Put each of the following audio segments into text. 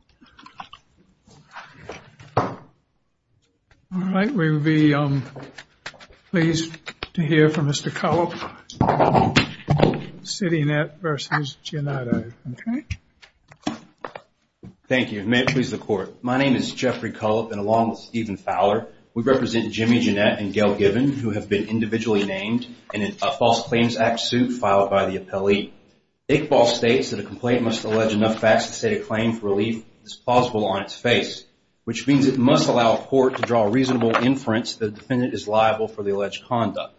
Jeffery Cullip, Citynet v. Gianato My name is Jeffrey Cullip and along with Stephen Fowler, we represent Jimmy Giannet and Gail Given who have been individually named in a False Claims Act suit filed by the appellee. Iqbal states that a complaint must allege enough facts to state a claim for relief that is plausible on its face, which means it must allow a court to draw a reasonable inference that the defendant is liable for the alleged conduct.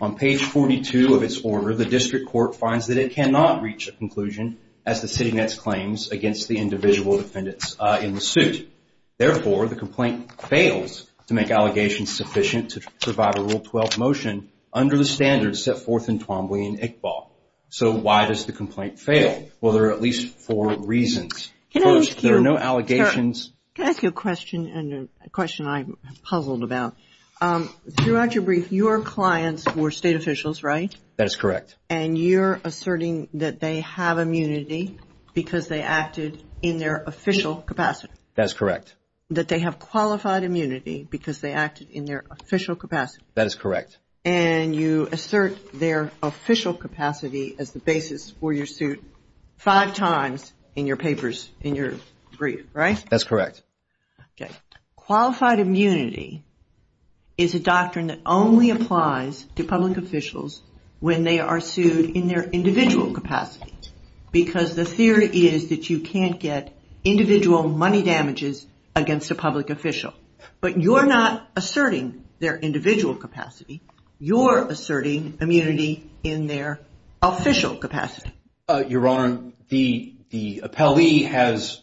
On page 42 of its order, the district court finds that it cannot reach a conclusion as the Citynet claims against the individual defendants in the suit. Therefore, the complaint fails to make allegations sufficient to provide a Rule 12 motion under the standards set forth in Twombly and Iqbal. So, why does the complaint fail? Well, there are at least four reasons. First, there are no allegations. Can I ask you a question and a question I'm puzzled about? Throughout your brief, your clients were state officials, right? That is correct. And you're asserting that they have immunity because they acted in their official capacity. That is correct. That they have qualified immunity because they acted in their official capacity. That is correct. And you assert their official capacity as the basis for your suit five times in your papers, in your brief, right? That's correct. Okay. Qualified immunity is a doctrine that only applies to public officials when they are sued in their individual capacity because the theory is that you can't get individual money damages against a public official. But you're not asserting their individual capacity. You're asserting immunity in their official capacity. Your Honor, the appellee has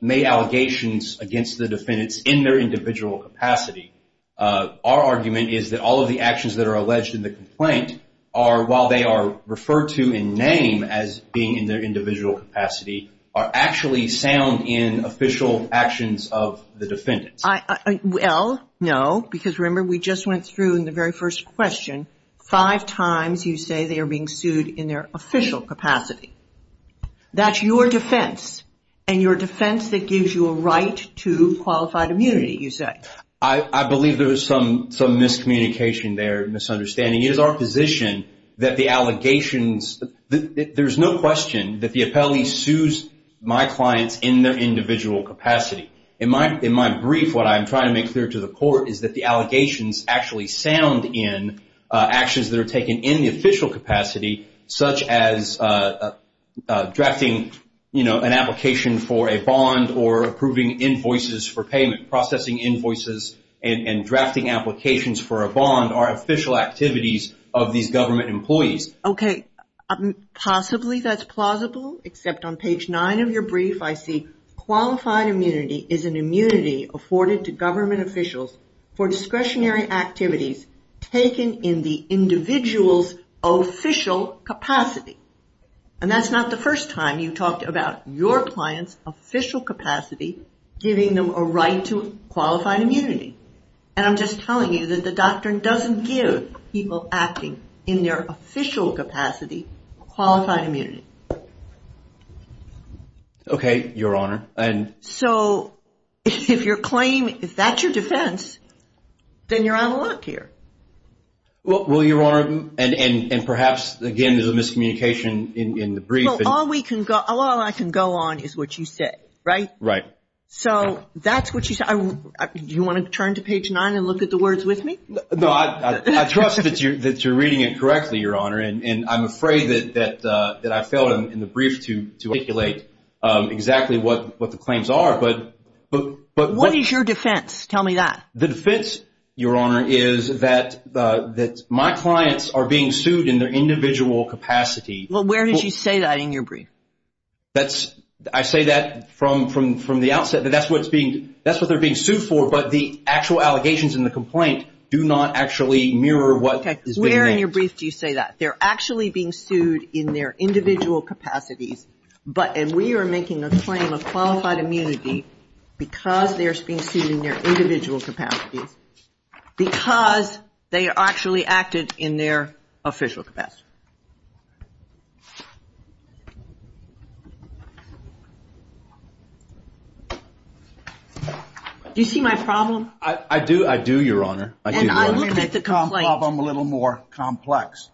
made allegations against the defendants in their individual capacity. Our argument is that all of the actions that are alleged in the complaint are, while they are referred to in name as being in their individual capacity, are actually sound in official actions of the defendants. Well, no, because remember we just went through in the very first question, five times you say they are being sued in their official capacity. That's your defense. And your defense that gives you a right to qualified immunity, you say. I believe there was some miscommunication there, misunderstanding. And it is our position that the allegations, there's no question that the appellee sues my clients in their individual capacity. In my brief, what I'm trying to make clear to the court is that the allegations actually sound in actions that are taken in the official capacity, such as drafting, you know, an application for a bond or approving invoices for payment, processing invoices and drafting applications for a bond, are official activities of these government employees. Okay. Possibly that's plausible, except on page nine of your brief, I see qualified immunity is an immunity afforded to government officials for discretionary activities taken in the individual's official capacity. And that's not the first time you've talked about your client's official capacity, giving them a right to qualified immunity. And I'm just telling you that the doctrine doesn't give people acting in their official capacity, qualified immunity. Okay, Your Honor. So if that's your defense, then you're out of luck here. Well, Your Honor, and perhaps, again, there's a miscommunication in the brief. Well, all I can go on is what you said, right? Right. So that's what you said. Do you want to turn to page nine and look at the words with me? No, I trust that you're reading it correctly, Your Honor, and I'm afraid that I failed in the brief to articulate exactly what the claims are. What is your defense? Tell me that. The defense, Your Honor, is that my clients are being sued in their individual capacity. Well, where did you say that in your brief? I say that from the outset, that that's what they're being sued for, but the actual allegations in the complaint do not actually mirror what is being made. Where in your brief do you say that? They're actually being sued in their individual capacities, and we are making a claim of qualified immunity because they're being sued in their individual capacities, because they actually acted in their official capacity. Do you see my problem? I do, Your Honor. And I'm looking at the complaint. Let me make the problem a little more complex.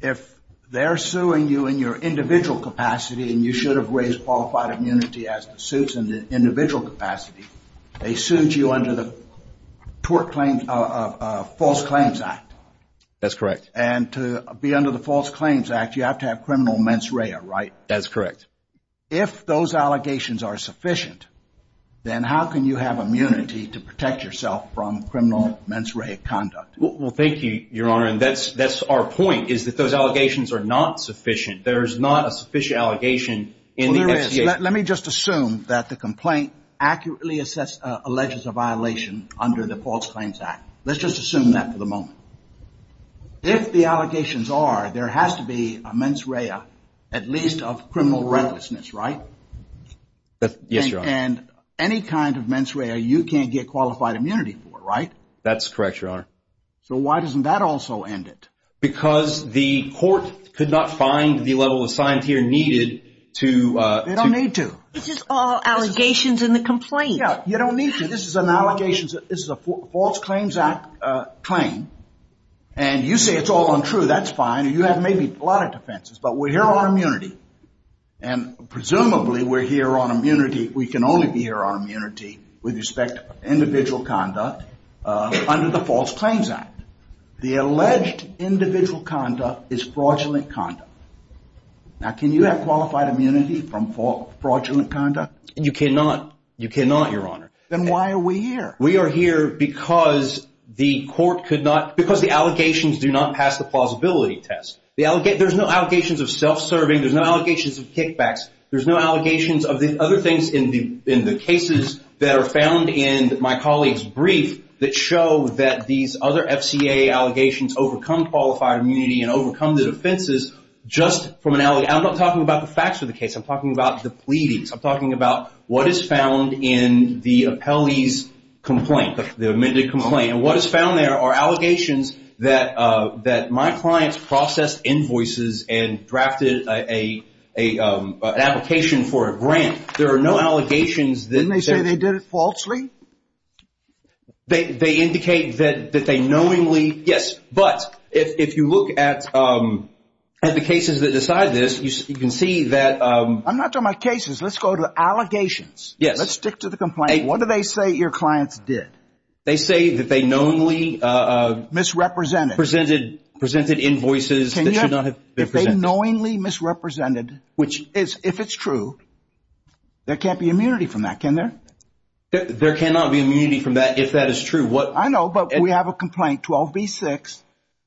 If they're suing you in your individual capacity and you should have raised qualified immunity as the suits in the individual capacity, they sued you under the False Claims Act. That's correct. And to be under the False Claims Act, you have to have criminal mens rea, right? That's correct. If those allegations are sufficient, then how can you have immunity to protect yourself from criminal mens rea conduct? Well, thank you, Your Honor, and that's our point, is that those allegations are not sufficient. There is not a sufficient allegation in the investigation. Let me just assume that the complaint accurately alleges a violation under the False Claims Act. Let's just assume that for the moment. If the allegations are there has to be a mens rea, at least of criminal recklessness, right? Yes, Your Honor. And any kind of mens rea you can't get qualified immunity for, right? That's correct, Your Honor. So why doesn't that also end it? Because the court could not find the level of science here needed to They don't need to. This is all allegations in the complaint. Yeah, you don't need to. This is an allegation. This is a False Claims Act claim. And you say it's all untrue. That's fine. You have maybe a lot of defenses, but we're here on immunity. And presumably we're here on immunity. We can only be here on immunity with respect to individual conduct under the False Claims Act. The alleged individual conduct is fraudulent conduct. Now can you have qualified immunity from fraudulent conduct? You cannot, Your Honor. Then why are we here? We are here because the allegations do not pass the plausibility test. There's no allegations of self-serving. There's no allegations of kickbacks. There's no allegations of the other things in the cases that are found in my colleague's brief that show that these other FCA allegations overcome qualified immunity and overcome the defenses just from an allegation. I'm not talking about the facts of the case. I'm talking about the pleadings. I'm talking about what is found in the appellee's complaint, the amended complaint. And what is found there are allegations that my clients processed invoices and drafted an application for a grant. There are no allegations. Didn't they say they did it falsely? They indicate that they knowingly, yes. But if you look at the cases that decide this, you can see that. I'm not talking about cases. Let's go to allegations. Yes. Let's stick to the complaint. What do they say your clients did? They say that they knowingly. Misrepresented. Presented invoices that should not have been presented. They knowingly misrepresented, which is if it's true, there can't be immunity from that, can there? There cannot be immunity from that if that is true. I know, but we have a complaint, 12B6.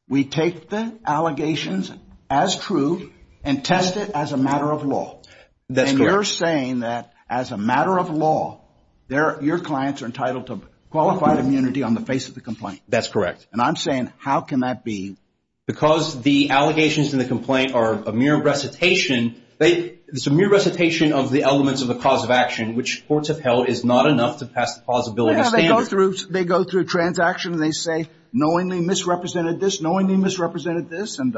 We take the allegations as true and test it as a matter of law. And you're saying that as a matter of law, your clients are entitled to qualified immunity on the face of the complaint. That's correct. And I'm saying how can that be? Because the allegations in the complaint are a mere recitation. It's a mere recitation of the elements of the cause of action, which courts have held is not enough to pass the plausibility standard. They go through a transaction and they say knowingly misrepresented this, knowingly misrepresented this. And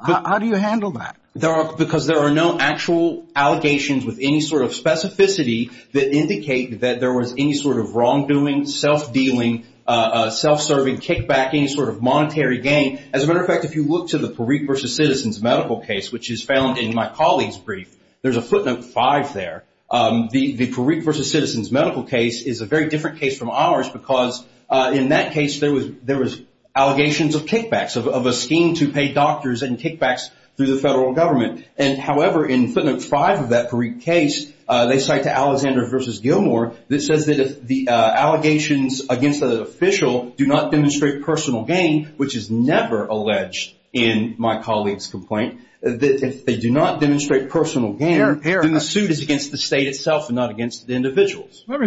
how do you handle that? Because there are no actual allegations with any sort of specificity that indicate that there was any sort of wrongdoing, self-dealing, self-serving, kickback, any sort of monetary gain. As a matter of fact, if you look to the Parikh versus Citizens medical case, which is found in my colleague's brief, there's a footnote five there. The Parikh versus Citizens medical case is a very different case from ours because in that case there was allegations of kickbacks, of a scheme to pay doctors and kickbacks through the federal government. However, in footnote five of that Parikh case, they cite to Alexander versus Gilmore that says that if the allegations against an official do not demonstrate personal gain, which is never alleged in my colleague's complaint, that if they do not demonstrate personal gain, then the suit is against the state itself and not against the individuals. One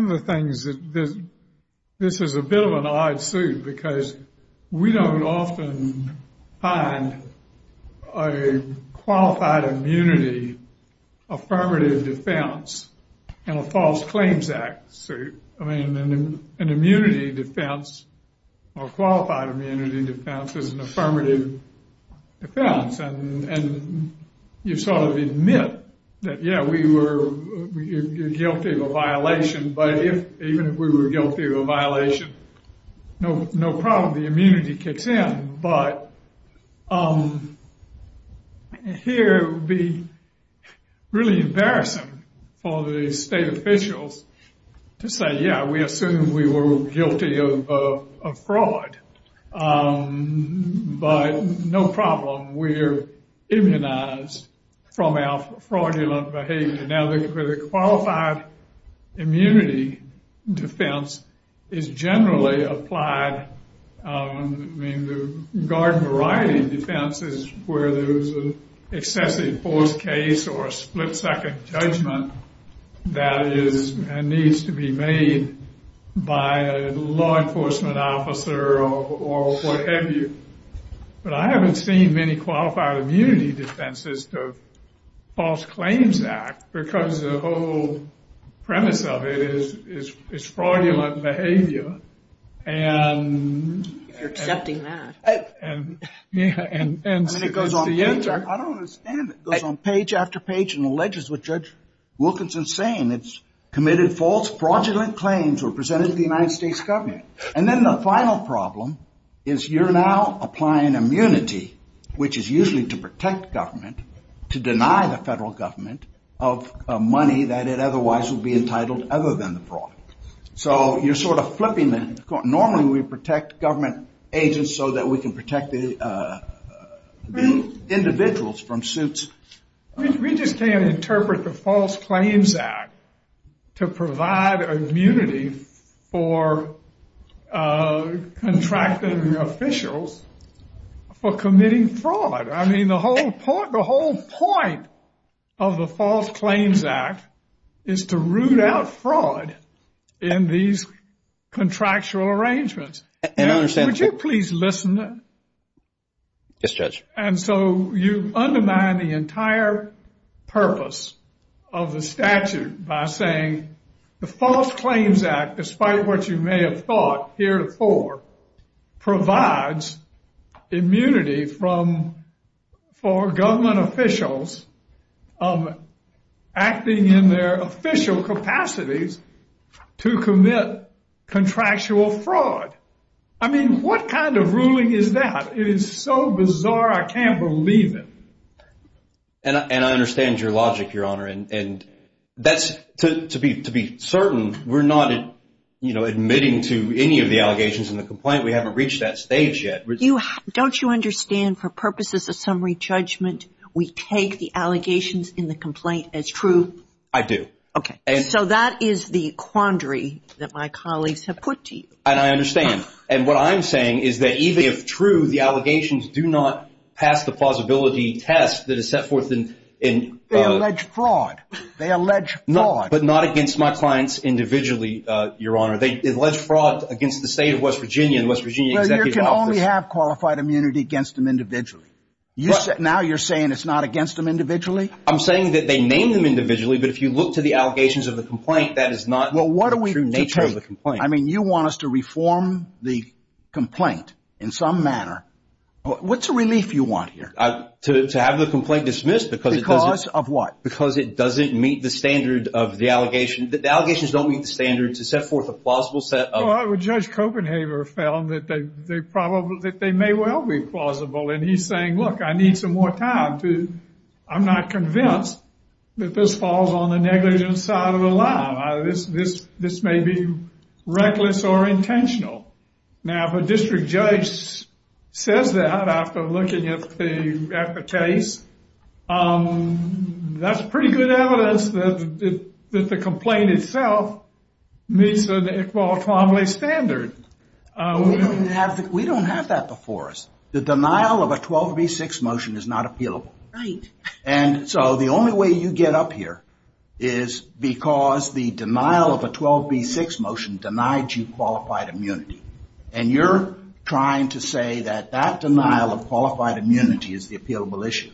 of the things that this is a bit of an odd suit because we don't often find a qualified immunity affirmative defense in a false claims act suit. I mean, an immunity defense or qualified immunity defense is an affirmative defense. And you sort of admit that, yeah, we were guilty of a violation, but even if we were guilty of a violation, no problem, the immunity kicks in. But here it would be really embarrassing for the state officials to say, yeah, we assume we were guilty of fraud, but no problem. We're immunized from our fraudulent behavior. Now, the qualified immunity defense is generally applied. I mean, the garden variety defense is where there is an excessive forced case or a split-second judgment that needs to be made by a law enforcement officer or whatever. But I haven't seen many qualified immunity defenses of false claims act because the whole premise of it is fraudulent behavior. You're accepting that. I don't understand it. It goes on page after page and alleges what Judge Wilkinson is saying. It's committed false fraudulent claims or presented to the United States government. And then the final problem is you're now applying immunity, which is usually to protect government, to deny the federal government of money that it otherwise would be entitled other than the fraud. So you're sort of flipping that. Normally we protect government agents so that we can protect the individuals from suits. We just can't interpret the False Claims Act to provide immunity for contracting officials for committing fraud. I mean, the whole point of the False Claims Act is to root out fraud in these contractual arrangements. I don't understand. Would you please listen? Yes, Judge. And so you undermine the entire purpose of the statute by saying the False Claims Act, despite what you may have thought heretofore, provides immunity for government officials acting in their official capacities to commit contractual fraud. I mean, what kind of ruling is that? It is so bizarre I can't believe it. And I understand your logic, Your Honor. To be certain, we're not admitting to any of the allegations in the complaint. We haven't reached that stage yet. Don't you understand for purposes of summary judgment, we take the allegations in the complaint as true? I do. So that is the quandary that my colleagues have put to you. And I understand. And what I'm saying is that even if true, the allegations do not pass the plausibility test that is set forth in... They allege fraud. They allege fraud. But not against my clients individually, Your Honor. They allege fraud against the state of West Virginia, the West Virginia Executive Office. Well, you can only have qualified immunity against them individually. Now you're saying it's not against them individually? I'm saying that they name them individually, but if you look to the allegations of the complaint, that is not the true nature of the complaint. I mean, you want us to reform the complaint in some manner. What's the relief you want here? To have the complaint dismissed because it doesn't... Because of what? Because it doesn't meet the standard of the allegation. The allegations don't meet the standard to set forth a plausible set of... Well, Judge Copenhaver found that they may well be plausible. And he's saying, look, I need some more time to... I'm not convinced that this falls on the negligent side of the line. This may be reckless or intentional. Now, if a district judge says that after looking at the case, that's pretty good evidence that the complaint itself meets an Iqbal Twomley standard. We don't have that before us. The denial of a 12B6 motion is not appealable. Right. And so the only way you get up here is because the denial of a 12B6 motion denied you qualified immunity. And you're trying to say that that denial of qualified immunity is the appealable issue.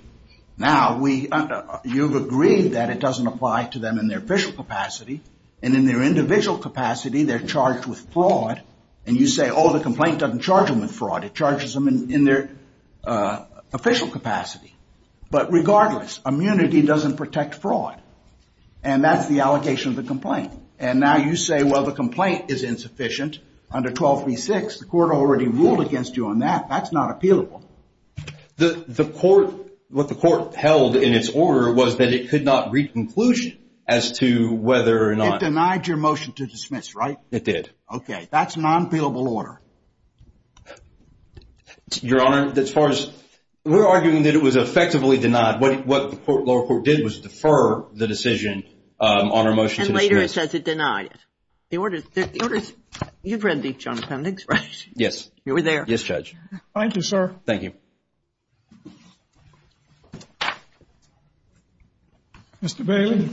Now, you've agreed that it doesn't apply to them in their official capacity. And in their individual capacity, they're charged with fraud. And you say, oh, the complaint doesn't charge them with fraud. It charges them in their official capacity. But regardless, immunity doesn't protect fraud. And that's the allegation of the complaint. And now you say, well, the complaint is insufficient under 12B6. The court already ruled against you on that. That's not appealable. What the court held in its order was that it could not read conclusion as to whether or not... It denied your motion to dismiss, right? It did. Okay. That's an unappealable order. Your Honor, as far as... We're arguing that it was effectively denied. What the lower court did was defer the decision on our motion to dismiss. And later it says it denied it. The order is... You've read the John Penn expression. Yes. You were there. Yes, Judge. Thank you, sir. Thank you. Mr. Bailey.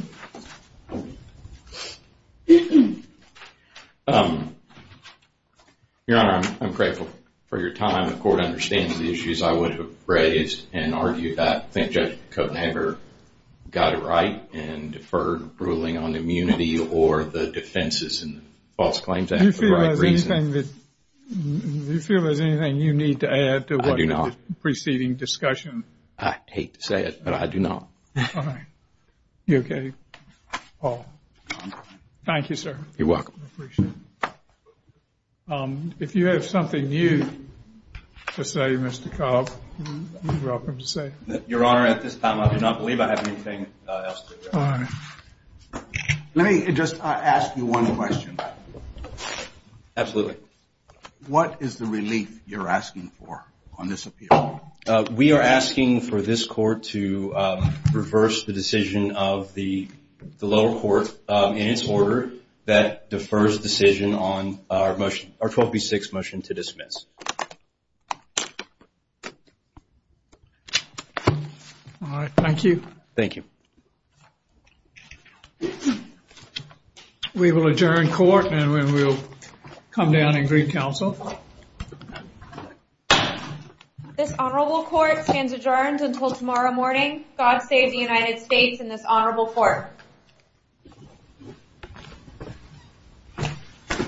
Your Honor, I'm grateful for your time. The court understands the issues I would have raised and argued that. I think Judge Kotenhaber got it right and deferred ruling on immunity or the defenses and false claims. Do you feel there's anything you need to add to what... I do not... the preceding discussion. I hate to say it, but I do not. All right. You okay, Paul? I'm fine. Thank you, sir. You're welcome. I appreciate it. If you have something new to say, Mr. Cobb, you're welcome to say. Your Honor, at this time I do not believe I have anything else to add. All right. Let me just ask you one question. Absolutely. What is the relief you're asking for on this appeal? Well, we are asking for this court to reverse the decision of the lower court in its order that defers decision on our 12B6 motion to dismiss. All right. Thank you. Thank you. We will adjourn court and we will come down and greet counsel. The honorable court stands adjourned until tomorrow morning. God save the United States and this honorable court.